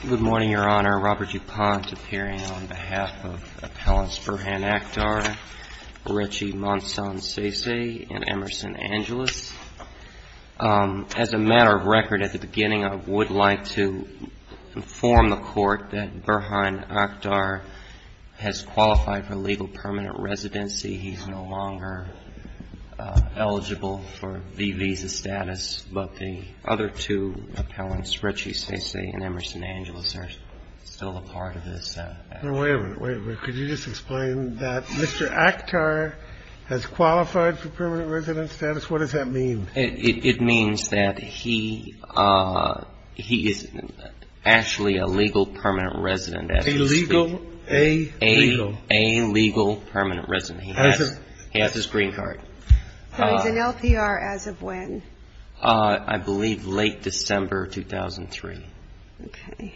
Good morning, Your Honor. Robert DuPont, appearing on behalf of Appellants Burhan Akhtar, Beretsi Monson-Sese, and Emerson Angeles. As a matter of record, at the beginning I would like to inform the Court that Burhan Akhtar has qualified for legal permanent residency. He is no longer eligible for the visa status, but the other two appellants, Beretsi Monson-Sese and Emerson Angeles, are still a part of this. THE COURT Wait a minute. Wait a minute. Could you just explain that Mr. Akhtar has qualified for permanent resident status? What does that mean? BURKHARDT It means that he is actually a legal permanent resident. THE COURT Illegal. Illegal. BURKHARDT A legal permanent resident. He has his green card. THE COURT So he's an LPR as of when? BURKHARDT I believe late December 2003. THE COURT Okay. THE COURT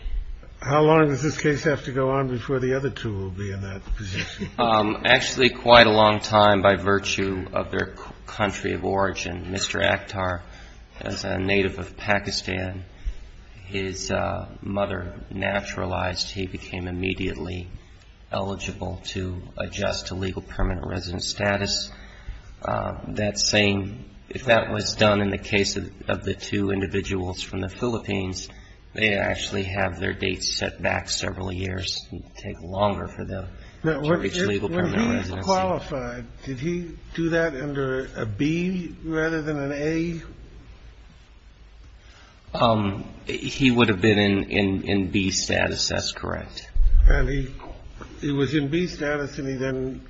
How long does this case have to go on before the other two will be in that position? BURKHARDT Actually, quite a long time by virtue of their country of origin. Mr. Akhtar, as a native of Pakistan, his mother naturalized. He became immediately eligible to adjust to legal permanent resident status. That same – if that was done in the case of the two individuals from the Philippines, they actually have their dates set back several years. It would take longer for them to reach legal permanent residence. THE COURT When he was qualified, did he do that under a B rather than an A? BURKHARDT He would have been in B status. That's correct. THE COURT And he was in B status, and he then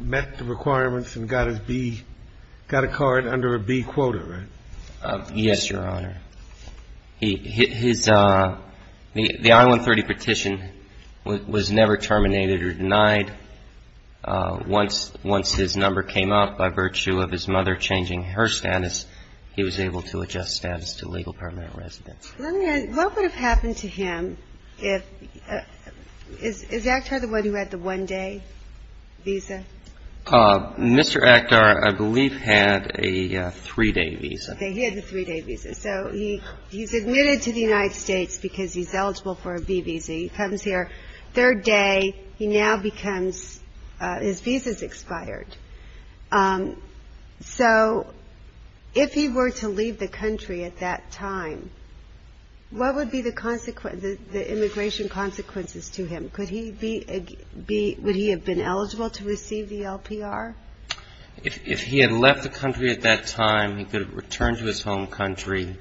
met the requirements and got his B – got a card under a B quota, right? BURKHARDT Yes, Your Honor. He – his – the I-130 petition was never terminated or denied. Once his number came up by virtue of his mother changing her status, he was able to adjust status to legal permanent residence. THE COURT What would have happened to him if – is Akhtar the one who had the one-day visa? BURKHARDT Mr. Akhtar, I believe, had a three-day visa. THE COURT Okay. He had the three-day visa. So he's admitted to the United States because he's eligible for a B visa. He comes here third day. He now becomes – his visa's expired. So if he were to leave the country at that time, what would be the consequence – the immigration consequences to him? Could he be – would he have been eligible to receive the LPR? BURKHARDT If he had left the country at that time, he could have returned to his home country,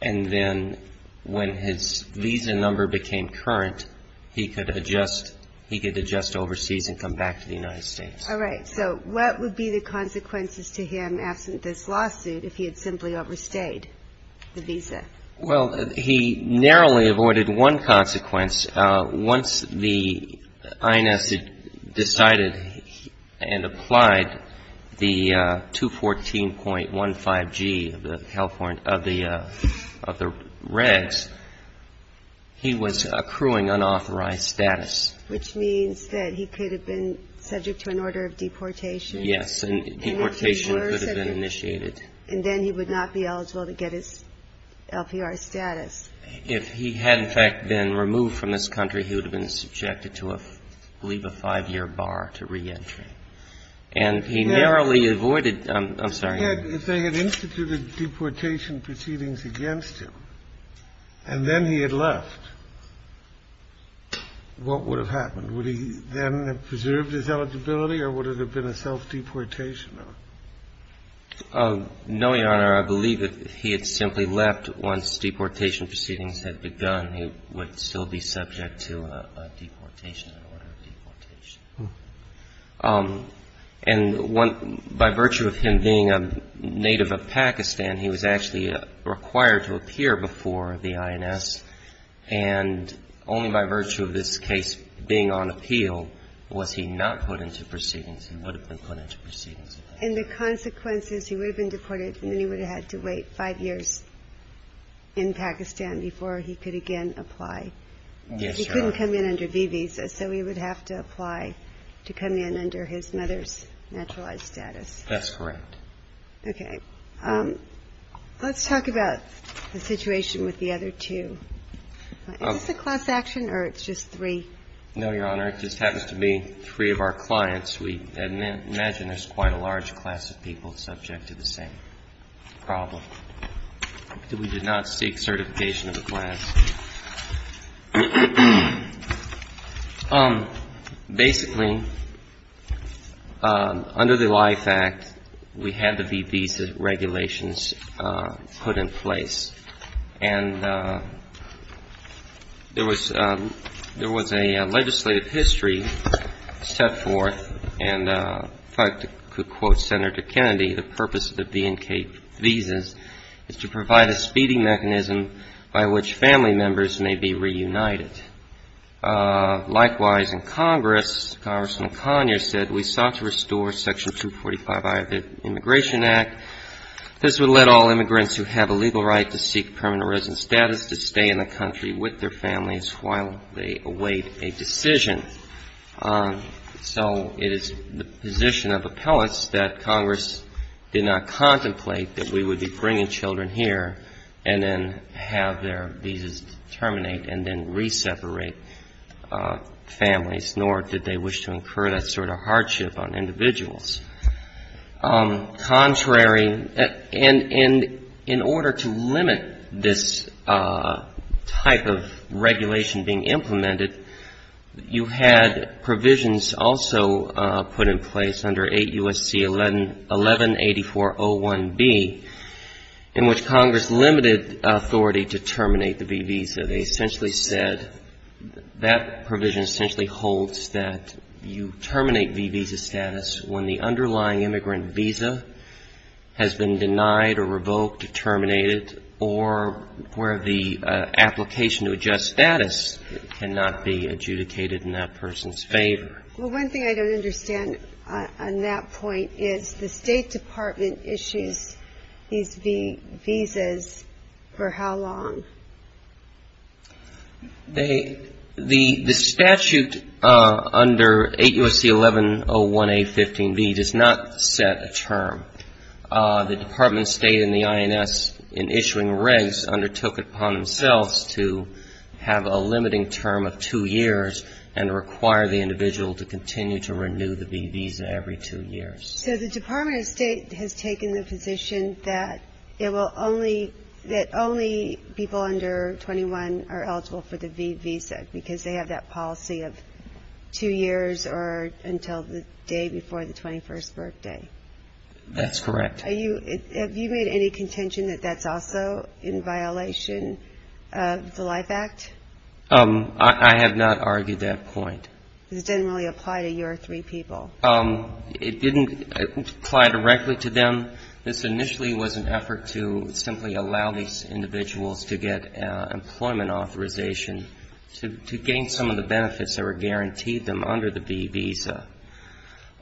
and then when his visa number became current, he could adjust – he could adjust overseas and come back to the United States. THE COURT All right. So what would be the consequences to him absent this lawsuit if he had simply overstayed the visa? BURKHARDT Well, he narrowly avoided one consequence. Once the INS had decided and applied the 214.15G of the California – of the – of the regs, he was accruing unauthorized status. THE COURT Which means that he could have been subject to an order of deportation. BURKHARDT Yes, and deportation could have been initiated. THE COURT And then he would not be eligible to get his LPR status. BURKHARDT If he had, in fact, been removed from this country, he would have been subjected to, I believe, a five-year bar to reentry. And he narrowly avoided – I'm sorry. THE COURT If they had instituted deportation proceedings against him and then he had left, what would have happened? Would he then have preserved his eligibility or would it have been a self-deportation? BURKHARDT No, Your Honor. I believe that if he had simply left once deportation proceedings had begun, he would still be subject to a deportation, an order of deportation. THE COURT And by virtue of him being a native of Pakistan, he was actually required to appear before the INS. And only by virtue of this case being on appeal was he not put into proceedings. He would have been put into proceedings. THE WITNESS In the consequences, he would have been deported and then he would have had to wait five years in Pakistan before he could again apply. BURKHARDT Yes, Your Honor. THE WITNESS He couldn't come in under V visa, so he would have to apply to come in under his mother's naturalized status. BURKHARDT That's correct. THE WITNESS Okay. Let's talk about the situation with the other two. Is this a class action or it's just three? BURKHARDT No, Your Honor. It just happens to be three of our clients. We imagine there's quite a large class of people subject to the same problem. We did not seek certification of the class. Basically, under the Life Act, we had the V visa regulations put in place. And there was a legislative history set forth. And if I could quote Senator Kennedy, the purpose of the V and K visas is to provide a speeding mechanism by which family members may be reunited. Likewise, in Congress, Congressman Conyers said, we sought to restore Section 245I of the status to stay in the country with their families while they await a decision. So it is the position of appellates that Congress did not contemplate that we would be bringing children here and then have their visas terminate and then re-separate families, nor did they wish to implement this type of regulation being implemented. You had provisions also put in place under 8 U.S.C. 118401B in which Congress limited authority to terminate the V visa. They essentially said that provision essentially holds that you terminate V visa status when the underlying application to adjust status cannot be adjudicated in that person's favor. Well, one thing I don't understand on that point is the State Department issues these V visas for how long? The statute under 8 U.S.C. 1101A.15B does not set a term. The Department of State and the INS in issuing regs undertook upon themselves to have a limiting term of two years and require the individual to continue to renew the V visa every two years. So the Department of State has taken the position that only people under 21 are eligible for the V visa because they have that policy of two years or until the day before the 21st birthday? That's correct. Have you made any contention that that's also in violation of the Life Act? I have not argued that point. Because it doesn't really apply to your three people? It didn't apply directly to them. This initially was an effort to simply allow these individuals to get employment authorization to gain some of the benefits that were guaranteed them under the V visa.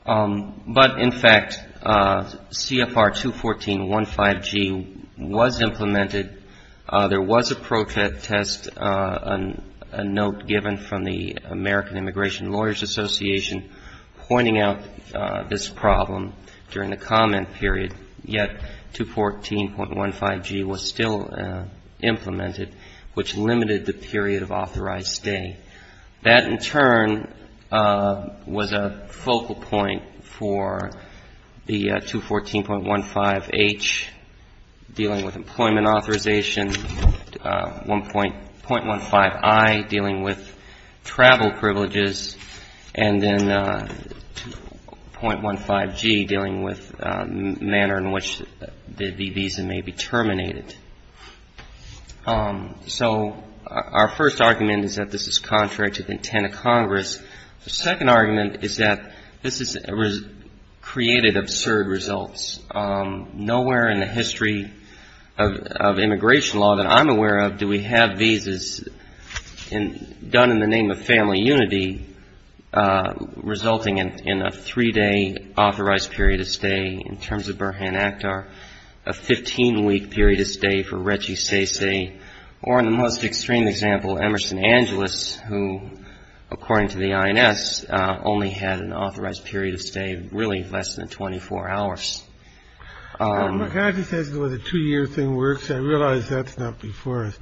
But, in fact, CFR 214.15G was implemented. There was a protest, a note given from the American Immigration Lawyers Association pointing out this problem during the comment period, yet 214.15G was still implemented, which limited the period of authorized stay. That, in turn, was a focal point for the 214.15H dealing with employment authorization, .15I dealing with travel privileges, and then .15G dealing with manner in which the V visa may be terminated. So our first argument is that this is contrary to the intent of Congress. The second argument is that this has created absurd results. Nowhere in the history of immigration law that I'm aware of do we have visas done in the name of family unity resulting in a three-day authorized period of stay in terms of Burhan Akhtar, a 15-week period of stay for Reggie Sese, or, in the most extreme example, Emerson Angeles, who, according to the INS, only had an authorized period of stay really less than 24 hours. My guide just says the two-year thing works. I realize that's not before us.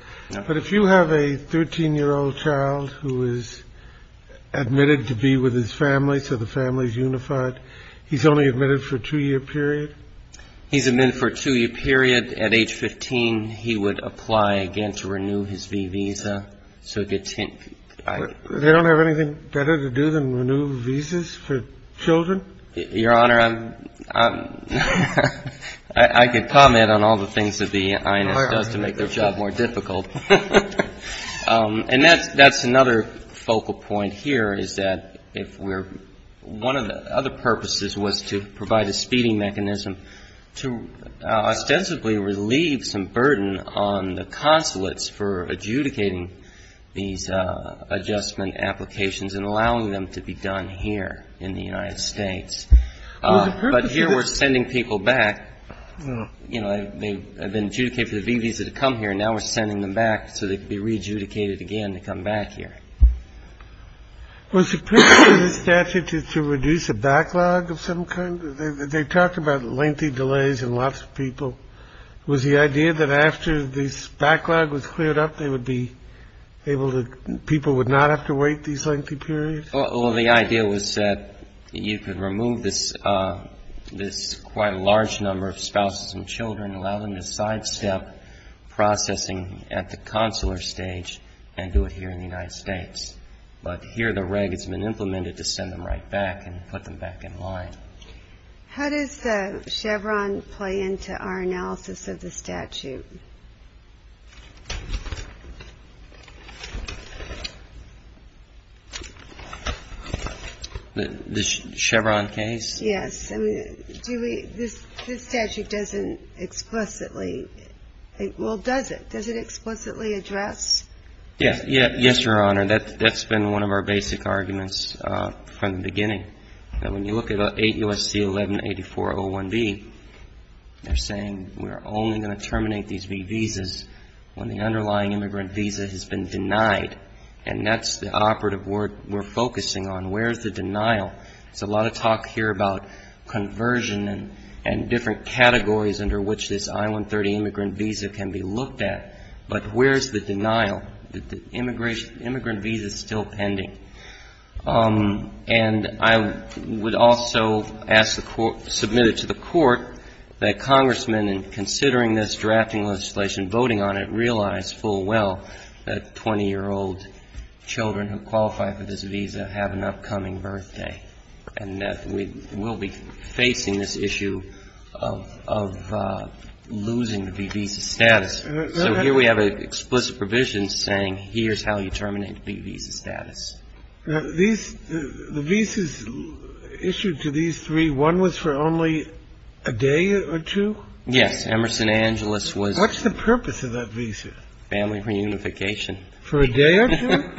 But if you have a 13-year-old child who is admitted to be with his family so the family is unified, he's only admitted for a two-year period? He's admitted for a two-year period. At age 15, he would apply again to renew his V visa. They don't have anything better to do than renew visas for children? Your Honor, I'm — I could comment on all the things that the INS does to make their job more difficult. And that's another focal point here is that if we're — one of the other purposes was to provide a speeding mechanism to ostensibly relieve some burden on the consulates for adjudicating these adjustment applications and allowing them to be done here in the United States. But here we're sending people back. You know, they've been adjudicated for the V visa to come here. Now we're sending them back so they can be re-adjudicated again to come back here. Was the purpose of this statute to reduce a backlog of some kind? They talk about lengthy delays and lots of people. Was the idea that after this backlog was cleared up, they would be able to — people would not have to wait these lengthy periods? Well, the idea was that you could remove this quite large number of spouses and children, allow them to sidestep processing at the consular stage and do it here in the United States. But here the reg has been implemented to send them right back and put them back in line. How does Chevron play into our analysis of the statute? The Chevron case? Yes. I mean, do we — this statute doesn't explicitly — well, does it? Does it explicitly address? Yes. Yes, Your Honor. That's been one of our basic arguments from the beginning, that when you look at 8 U.S.C. 1184.01b, they're saying we're only going to terminate these V visas when the underlying immigrant visa has been denied. And that's the operative word we're focusing on. Where's the denial? There's a lot of talk here about conversion and different categories under which this I-130 immigrant visa can be looked at. But where's the denial? The immigration — the immigrant visa is still pending. And I would also ask the court — submit it to the court that congressmen, in considering this drafting legislation, and voting on it, realize full well that 20-year-old children who qualify for this visa have an upcoming birthday, and that we will be facing this issue of losing the V visa status. So here we have an explicit provision saying here's how you terminate the V visa status. These — the visas issued to these three, one was for only a day or two? Yes. Emerson Angeles was — What's the purpose of that visa? Family reunification. For a day or two?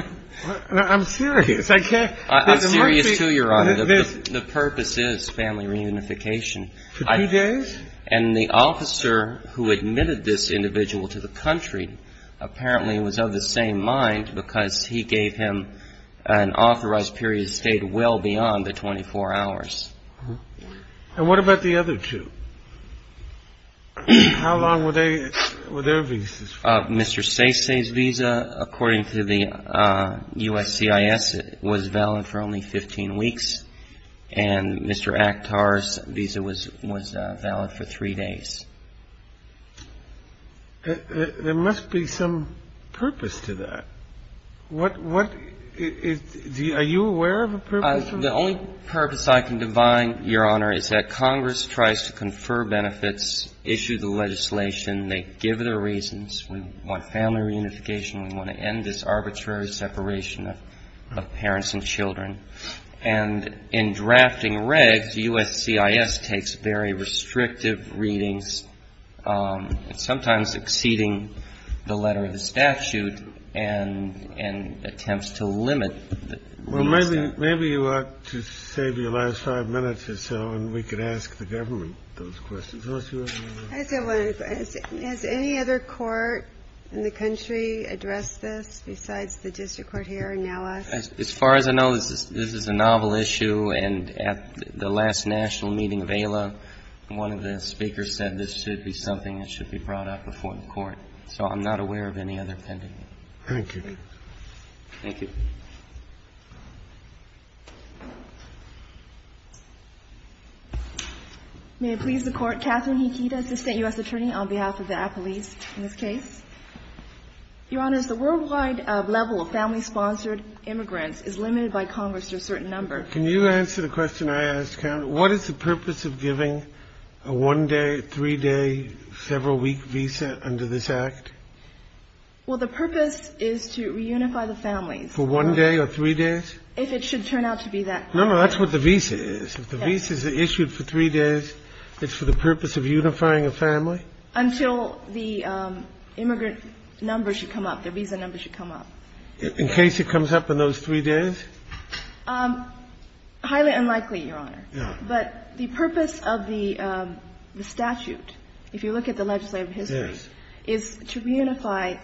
I'm serious. I can't — I'm serious, too, Your Honor. The purpose is family reunification. For two days? And the officer who admitted this individual to the country apparently was of the same mind, because he gave him an authorized period that stayed well beyond the 24 hours. And what about the other two? How long were they — were their visas? Mr. Sese's visa, according to the USCIS, was valid for only 15 weeks. And Mr. Akhtar's visa was valid for three days. There must be some purpose to that. What — are you aware of a purpose? The only purpose I can divine, Your Honor, is that Congress tries to confer benefits, issue the legislation, they give their reasons. We want family reunification. We want to end this arbitrary separation of parents and children. And in drafting regs, USCIS takes very restrictive readings, sometimes exceeding the letter of the statute, and attempts to limit the — Well, maybe you ought to save your last five minutes or so, and we could ask the government those questions. Has any other court in the country addressed this besides the district court here and now us? As far as I know, this is a novel issue. And at the last national meeting of ALA, one of the speakers said this should be something that should be brought up before the court. So I'm not aware of any other pending. Thank you. Thank you. Thank you. May it please the Court. Catherine Hikita, assistant U.S. attorney on behalf of the apolice in this case. Your Honors, the worldwide level of family-sponsored immigrants is limited by Congress to a certain number. Can you answer the question I asked, count? What is the purpose of giving a one-day, three-day, several-week visa under this Act? Well, the purpose is to reunify the families. For one day or three days? If it should turn out to be that. No, no. That's what the visa is. If the visas are issued for three days, it's for the purpose of unifying a family? Until the immigrant number should come up, the visa number should come up. In case it comes up in those three days? Highly unlikely, Your Honor. No. But the purpose of the statute, if you look at the legislative history, is to reunify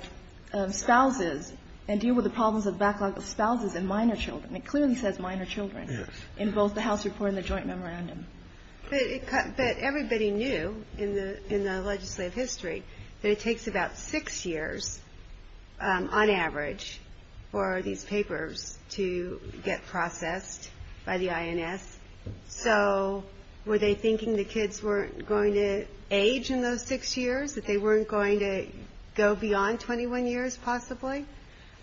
spouses and deal with the problems of backlog of spouses and minor children. It clearly says minor children in both the House report and the joint memorandum. But everybody knew in the legislative history that it takes about six years, on average, for these papers to get processed by the INS. So were they thinking the kids weren't going to age in those six years, that they weren't going to go beyond 21 years possibly?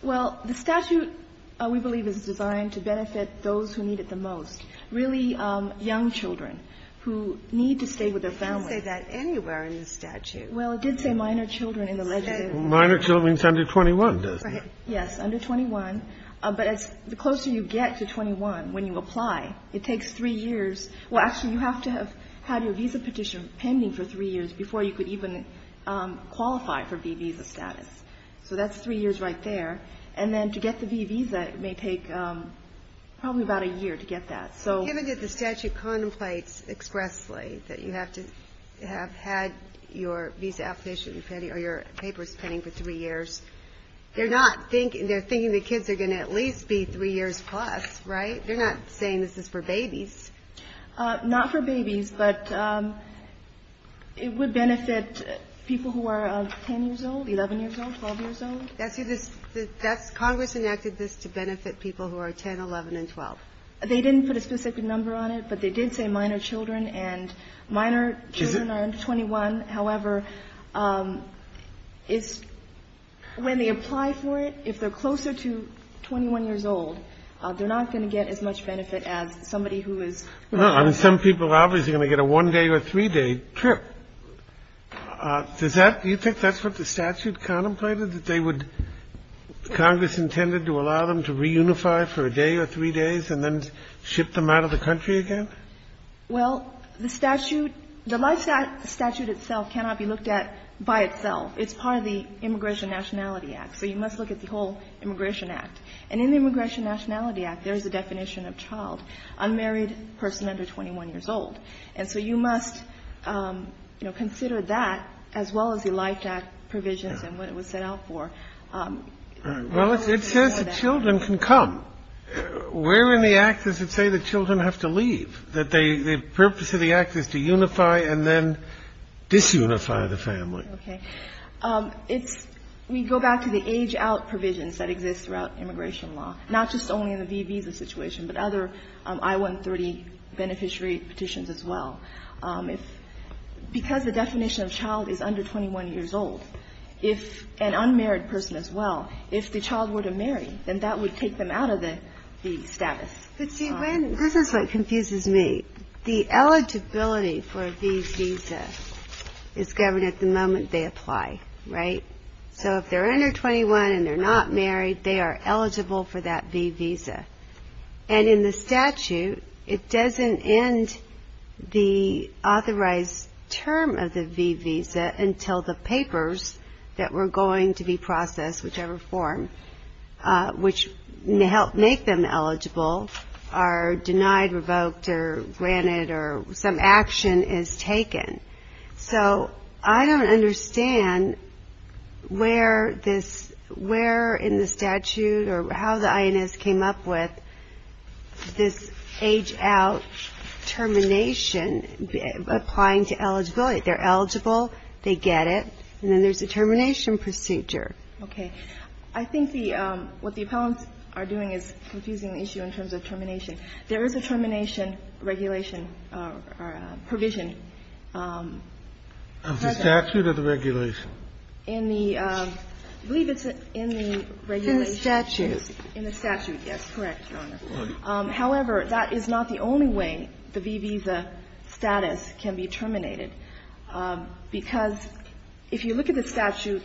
Well, the statute, we believe, is designed to benefit those who need it the most, really young children who need to stay with their families. It didn't say that anywhere in the statute. Well, it did say minor children in the legislative. Minor children is under 21, doesn't it? Right. Yes, under 21. But the closer you get to 21, when you apply, it takes three years. Well, actually, you have to have had your visa petition pending for three years before you could even qualify for visa status. So that's three years right there. And then to get the visa, it may take probably about a year to get that. Given that the statute contemplates expressly that you have to have had your visa petition or your papers pending for three years, they're not thinking, they're thinking the kids are going to at least be three years plus, right? They're not saying this is for babies. Not for babies, but it would benefit people who are 10 years old, 11 years old, 12 years old. Congress enacted this to benefit people who are 10, 11, and 12. They didn't put a specific number on it, but they did say minor children. And minor children are under 21. However, it's, when they apply for it, if they're closer to 21 years old, they're not going to get as much benefit as somebody who is. No. I mean, some people are obviously going to get a one-day or three-day trip. Does that, do you think that's what the statute contemplated, that they would, Congress intended to allow them to reunify for a day or three days and then ship them out of the country again? Well, the statute, the life statute itself cannot be looked at by itself. It's part of the Immigration Nationality Act. So you must look at the whole Immigration Act. And in the Immigration Nationality Act, there is a definition of child, unmarried person under 21 years old. And so you must, you know, consider that as well as the Life Act provisions and what it was set out for. Well, it says that children can come. Where in the Act does it say that children have to leave? That they, the purpose of the Act is to unify and then disunify the family. Okay. It's, we go back to the age-out provisions that exist throughout immigration law, not just only in the visa situation, but other I-130 beneficiary petitions as well. If, because the definition of child is under 21 years old, if an unmarried person as well, if the child were to marry, then that would take them out of the status. But see, this is what confuses me. The eligibility for a V visa is governed at the moment they apply, right? So if they're under 21 and they're not married, they are eligible for that V visa. And in the statute, it doesn't end the authorized term of the V visa until the papers that were going to be processed, whichever form, which help make them eligible, are denied, revoked, or granted, or some action is taken. So I don't understand where this, where in the statute or how the INS came up with this age-out termination applying to eligibility. They're eligible, they get it, and then there's a termination procedure. Okay. I think the, what the appellants are doing is confusing the issue in terms of termination. There is a termination regulation or provision. The statute or the regulation? In the, I believe it's in the regulation. In the statute. In the statute. Yes, correct, Your Honor. However, that is not the only way the V visa status can be terminated. Because if you look at the statute,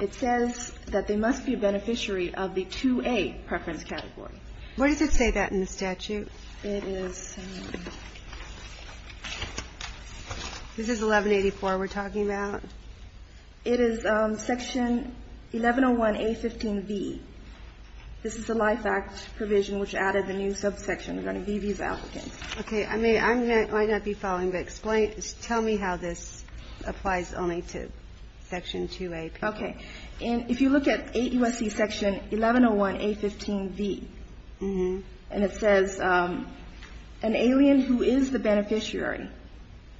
it says that they must be a beneficiary of the 2A preference category. Where does it say that in the statute? It is, this is 1184 we're talking about. It is section 1101A15V. This is the Life Act provision which added the new subsection regarding V visa applicants. Okay. I may, I might not be following, but explain, tell me how this applies only to section 2A. Okay. And if you look at 8 U.S.C. section 1101A15V, and it says, an alien who is the beneficiary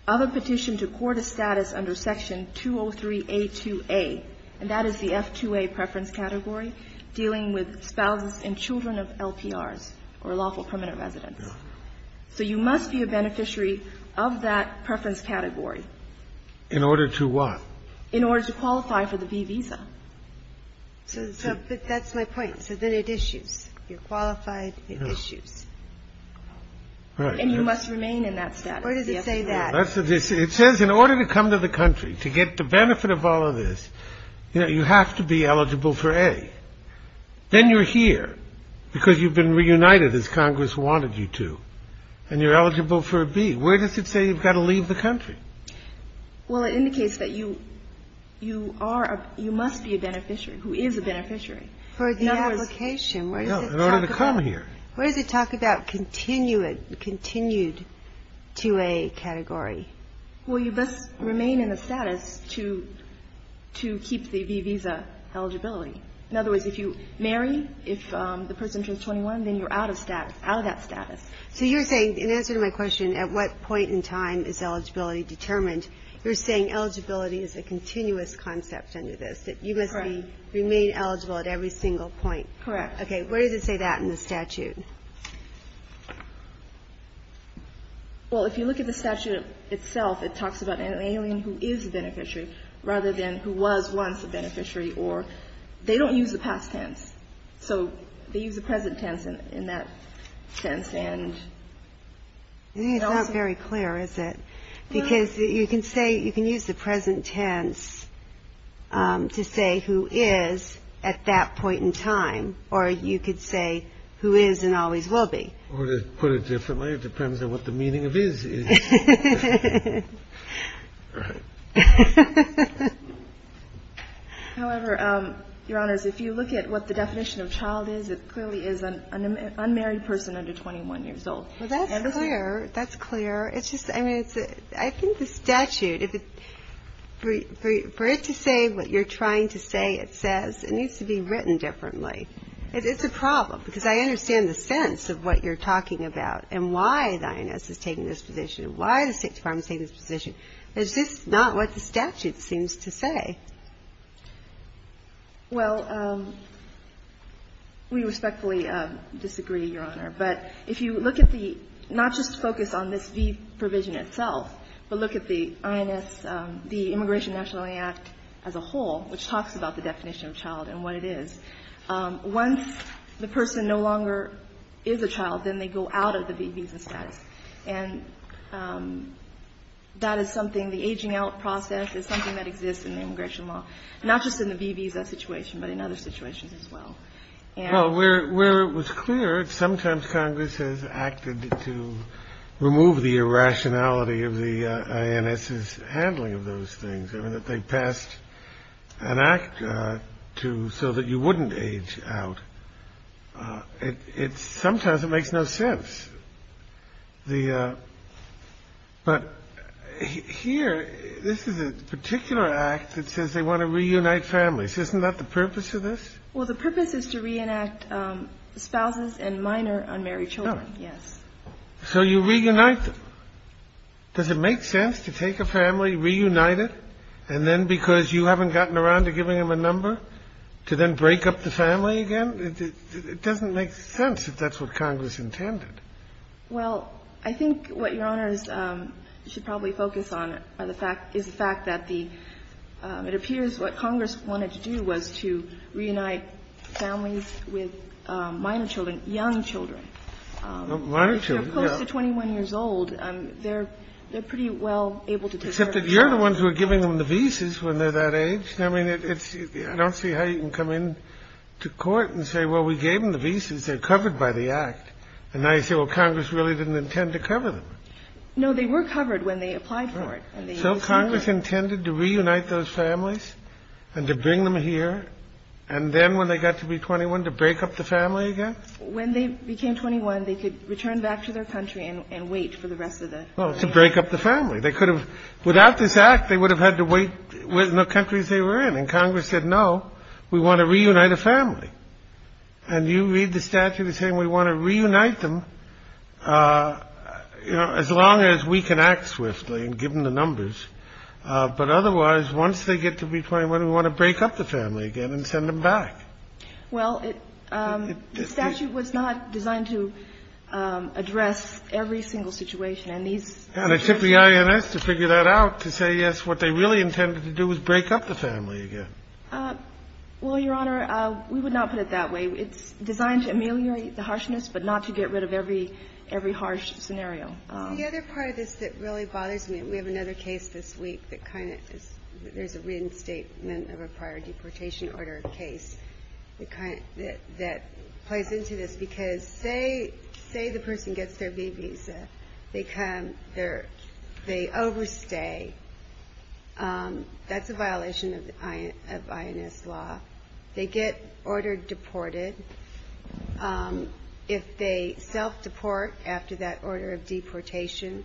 of a petition to court a status under section 203A2A, and that is the F2A preference category, dealing with spouses and children of LPRs or lawful permanent residents. So you must be a beneficiary of that preference category. In order to what? In order to qualify for the V visa. So that's my point. So then it issues. You're qualified. It issues. And you must remain in that status. Where does it say that? It says in order to come to the country, to get the benefit of all of this, you know, then you're here because you've been reunited as Congress wanted you to. And you're eligible for a B. Where does it say you've got to leave the country? Well, it indicates that you are, you must be a beneficiary, who is a beneficiary. For the application. In order to come here. Where does it talk about continued 2A category? Well, you must remain in the status to keep the V visa eligibility. In other words, if you marry, if the person turns 21, then you're out of that status. So you're saying, in answer to my question, at what point in time is eligibility determined, you're saying eligibility is a continuous concept under this, that you must remain eligible at every single point. Correct. Okay. Where does it say that in the statute? Well, if you look at the statute itself, it talks about an alien who is a beneficiary rather than who was once a beneficiary. Or they don't use the past tense. So they use the present tense in that sense. And it's not very clear, is it? Because you can say, you can use the present tense to say who is at that point in time. Or you could say who is and always will be. Or to put it differently, it depends on what the meaning of is is. Right. However, Your Honors, if you look at what the definition of child is, it clearly is an unmarried person under 21 years old. Well, that's clear. That's clear. It's just, I mean, I think the statute, for it to say what you're trying to say it says, it needs to be written differently. It's a problem. Because I understand the sense of what you're talking about and why the INS is taking this position and why the State Department is taking this position. It's just not what the statute seems to say. Well, we respectfully disagree, Your Honor. But if you look at the, not just focus on this v. provision itself, but look at the INS, the Immigration Nationality Act as a whole, which talks about the definition of child and what it is. Once the person no longer is a child, then they go out of the VBs and status. And that is something, the aging out process is something that exists in the immigration law, not just in the VBs, that situation, but in other situations as well. Well, where it was clear, sometimes Congress has acted to remove the irrationality of the INS's handling of those things. I mean, that they passed an act so that you wouldn't age out. Sometimes it makes no sense. But here, this is a particular act that says they want to reunite families. Isn't that the purpose of this? Well, the purpose is to reenact spouses and minor unmarried children, yes. So you reunite them. Does it make sense to take a family, reunite it, and then because you haven't gotten around to giving them a number, to then break up the family again? It doesn't make sense if that's what Congress intended. Well, I think what Your Honors should probably focus on is the fact that the, it appears what Congress wanted to do was to reunite families with minor children, young children. Minor children, yes. But if they're close to 21 years old, they're pretty well able to take care of themselves. Except that you're the ones who are giving them the visas when they're that age. I mean, it's, I don't see how you can come into court and say, well, we gave them the visas. They're covered by the act. And now you say, well, Congress really didn't intend to cover them. No, they were covered when they applied for it. So Congress intended to reunite those families and to bring them here, and then when they got to be 21, to break up the family again? When they became 21, they could return back to their country and wait for the rest of the family. Well, to break up the family. They could have, without this act, they would have had to wait in the countries they were in. And Congress said, no, we want to reunite a family. And you read the statute as saying we want to reunite them, you know, as long as we can act swiftly and give them the numbers. But otherwise, once they get to be 21, we want to break up the family again and send them back. Well, the statute was not designed to address every single situation. And these ---- And it took the INS to figure that out, to say, yes, what they really intended to do was break up the family again. Well, Your Honor, we would not put it that way. It's designed to ameliorate the harshness, but not to get rid of every harsh scenario. The other part of this that really bothers me, and we have another case this week that kind of is, there's a reinstatement of a prior deportation order case that plays into this. Because say the person gets their B visa, they overstay. That's a violation of INS law. They get ordered deported. If they self-deport after that order of deportation,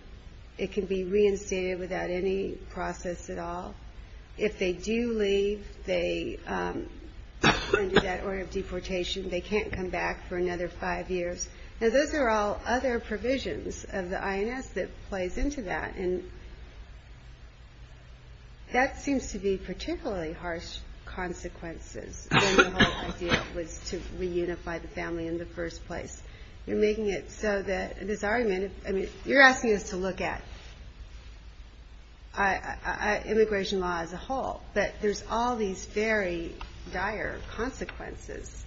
it can be reinstated without any process at all. If they do leave under that order of deportation, they can't come back for another five years. Now, those are all other provisions of the INS that plays into that. And that seems to be particularly harsh consequences than the whole idea was to reunify the family in the first place. You're making it so that this argument, I mean, you're asking us to look at immigration law as a whole, but there's all these very dire consequences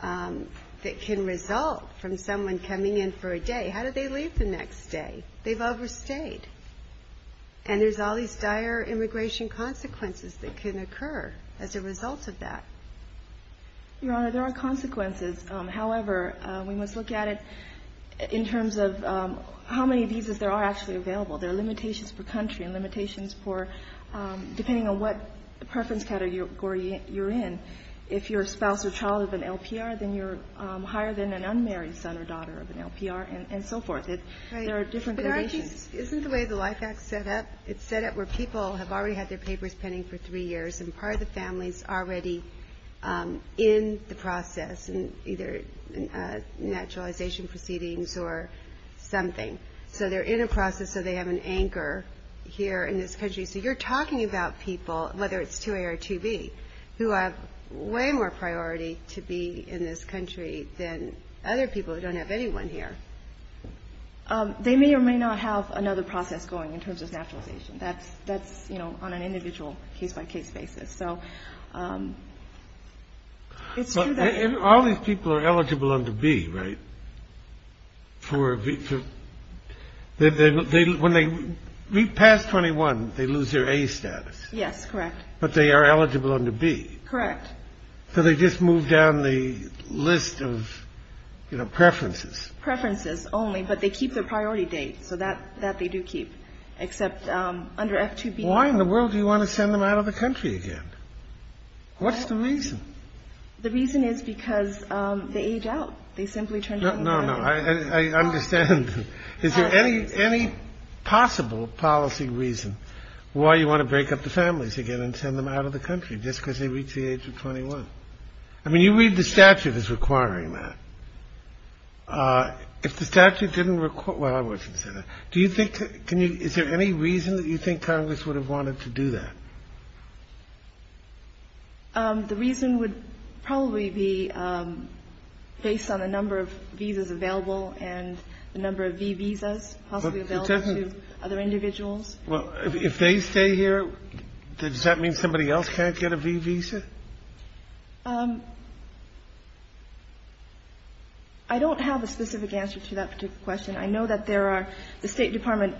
that can result from someone coming in for a day. How do they leave the next day? They've overstayed. And there's all these dire immigration consequences that can occur as a result of that. Your Honor, there are consequences. However, we must look at it in terms of how many visas there are actually available. There are limitations for country and limitations for depending on what preference category you're in. If you're a spouse or child of an LPR, then you're higher than an unmarried son or daughter of an LPR and so forth. There are different conditions. Isn't the way the Life Act is set up, it's set up where people have already had their papers pending for three years and part of the family is already in the process in either naturalization proceedings or something. So they're in a process so they have an anchor here in this country. So you're talking about people, whether it's 2A or 2B, who have way more priority to be in this country than other people who don't have anyone here. They may or may not have another process going in terms of naturalization. That's that's, you know, on an individual case by case basis. So it's true that all these people are eligible to be right. For when they pass 21, they lose their A status. Yes, correct. But they are eligible under B. Correct. So they just move down the list of preferences. Preferences only. But they keep their priority date. So that that they do keep, except under F2B. Why in the world do you want to send them out of the country again? What's the reason? The reason is because they age out. They simply turned out. No, no, no. I understand. Is there any any possible policy reason why you want to break up the families again and send them out of the country just because they reach the age of 21? I mean, you read the statute is requiring that if the statute didn't require. Well, I wasn't. Do you think. Can you. Is there any reason that you think Congress would have wanted to do that? The reason would probably be based on the number of visas available and the number of V visas possibly available to other individuals. Well, if they stay here, does that mean somebody else can't get a V visa? I don't have a specific answer to that particular question. I know that there are the State Department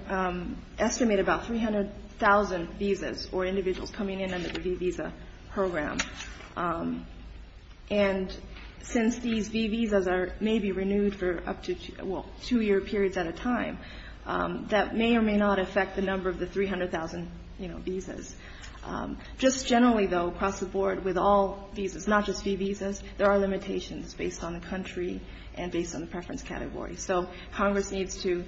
estimate about 300000 visas or individuals coming in under the visa program. And since these V visas are maybe renewed for up to two year periods at a time, that may or may not affect the number of the 300000 visas. Just generally, though, across the board with all visas, not just V visas. There are limitations based on the country and based on the preference category. So Congress needs to,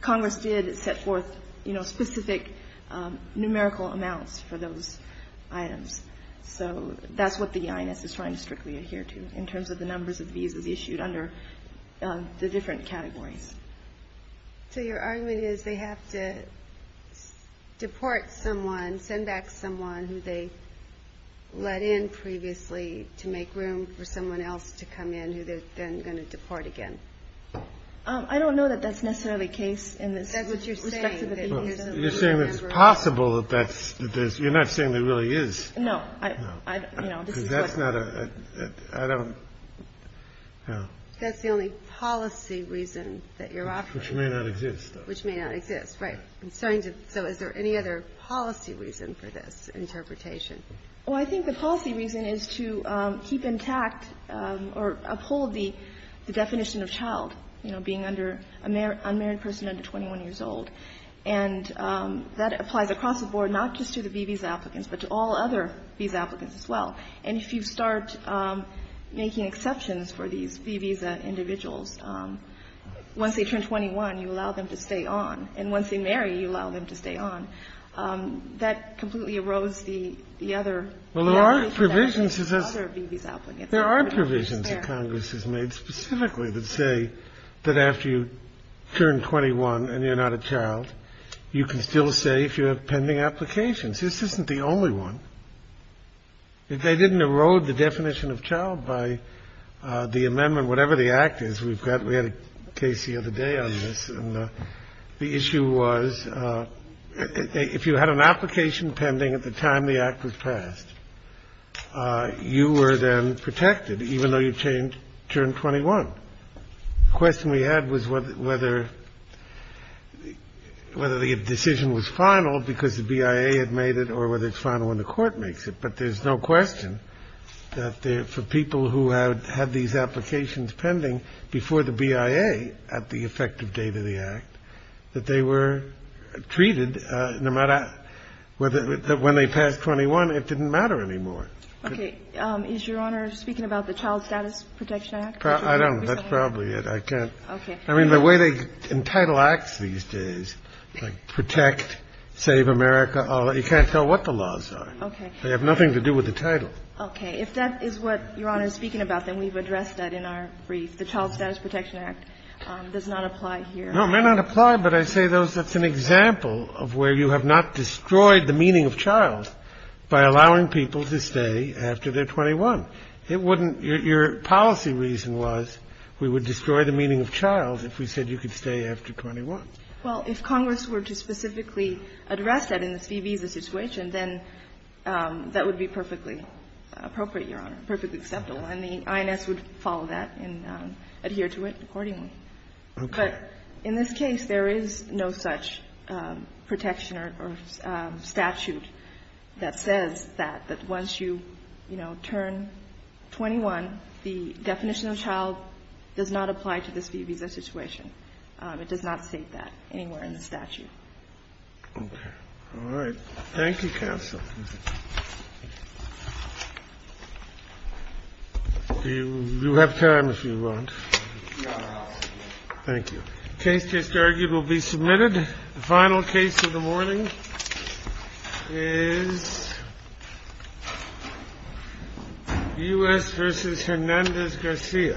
Congress did set forth, you know, specific numerical amounts for those items. So that's what the EIS is trying to strictly adhere to in terms of the numbers of visas issued under the different categories. So your argument is they have to deport someone, send back someone who they let in previously to make room for someone else to come in who they're then going to deport again. I don't know that that's necessarily the case. And that's what you're saying. You're saying it's possible that that's this. You're not saying there really is. No, I know. That's not a I don't know. That's the only policy reason that you're offering, which may not exist, which may not exist. Right. I'm sorry. So is there any other policy reason for this interpretation? Well, I think the policy reason is to keep intact or uphold the definition of child, you know, being under a unmarried person under 21 years old. And that applies across the board, not just to the V visa applicants, but to all other visa applicants as well. And if you start making exceptions for these V visa individuals, once they turn 21, you allow them to stay on. And once they marry, you allow them to stay on. That completely erodes the other. Well, there are provisions. There are provisions that Congress has made specifically that say that after you turn 21 and you're not a child, you can still say if you have pending applications. This isn't the only one. If they didn't erode the definition of child by the amendment, whatever the act is, we had a case the other day on this. And the issue was if you had an application pending at the time the act was passed, you were then protected, even though you turned 21. The question we had was whether the decision was final because the BIA had made it or whether it's final when the court makes it. But there's no question that for people who had these applications pending before the BIA at the effective date of the act, that they were treated no matter whether when they passed 21, it didn't matter anymore. Okay. Is Your Honor speaking about the Child Status Protection Act? I don't know. That's probably it. I can't. Okay. I mean, the way they entitle acts these days, like protect, save America, you can't tell what the laws are. They have nothing to do with the title. Okay. If that is what Your Honor is speaking about, then we've addressed that in our brief. The Child Status Protection Act does not apply here. No, it may not apply, but I say that's an example of where you have not destroyed the meaning of child by allowing people to stay after they're 21. It wouldn't – your policy reason was we would destroy the meaning of child if we said you could stay after 21. Well, if Congress were to specifically address that in this fee visa situation, then that would be perfectly appropriate, Your Honor, perfectly acceptable. And the INS would follow that and adhere to it accordingly. Okay. But in this case, there is no such protection or statute that says that, that once you, you know, turn 21, the definition of child does not apply to this fee visa situation. It does not state that anywhere in the statute. Okay. All right. Thank you, counsel. You have time if you want. No. Thank you. The case just argued will be submitted. The final case of the morning is U.S. v. Hernandez Garcia. Thank you.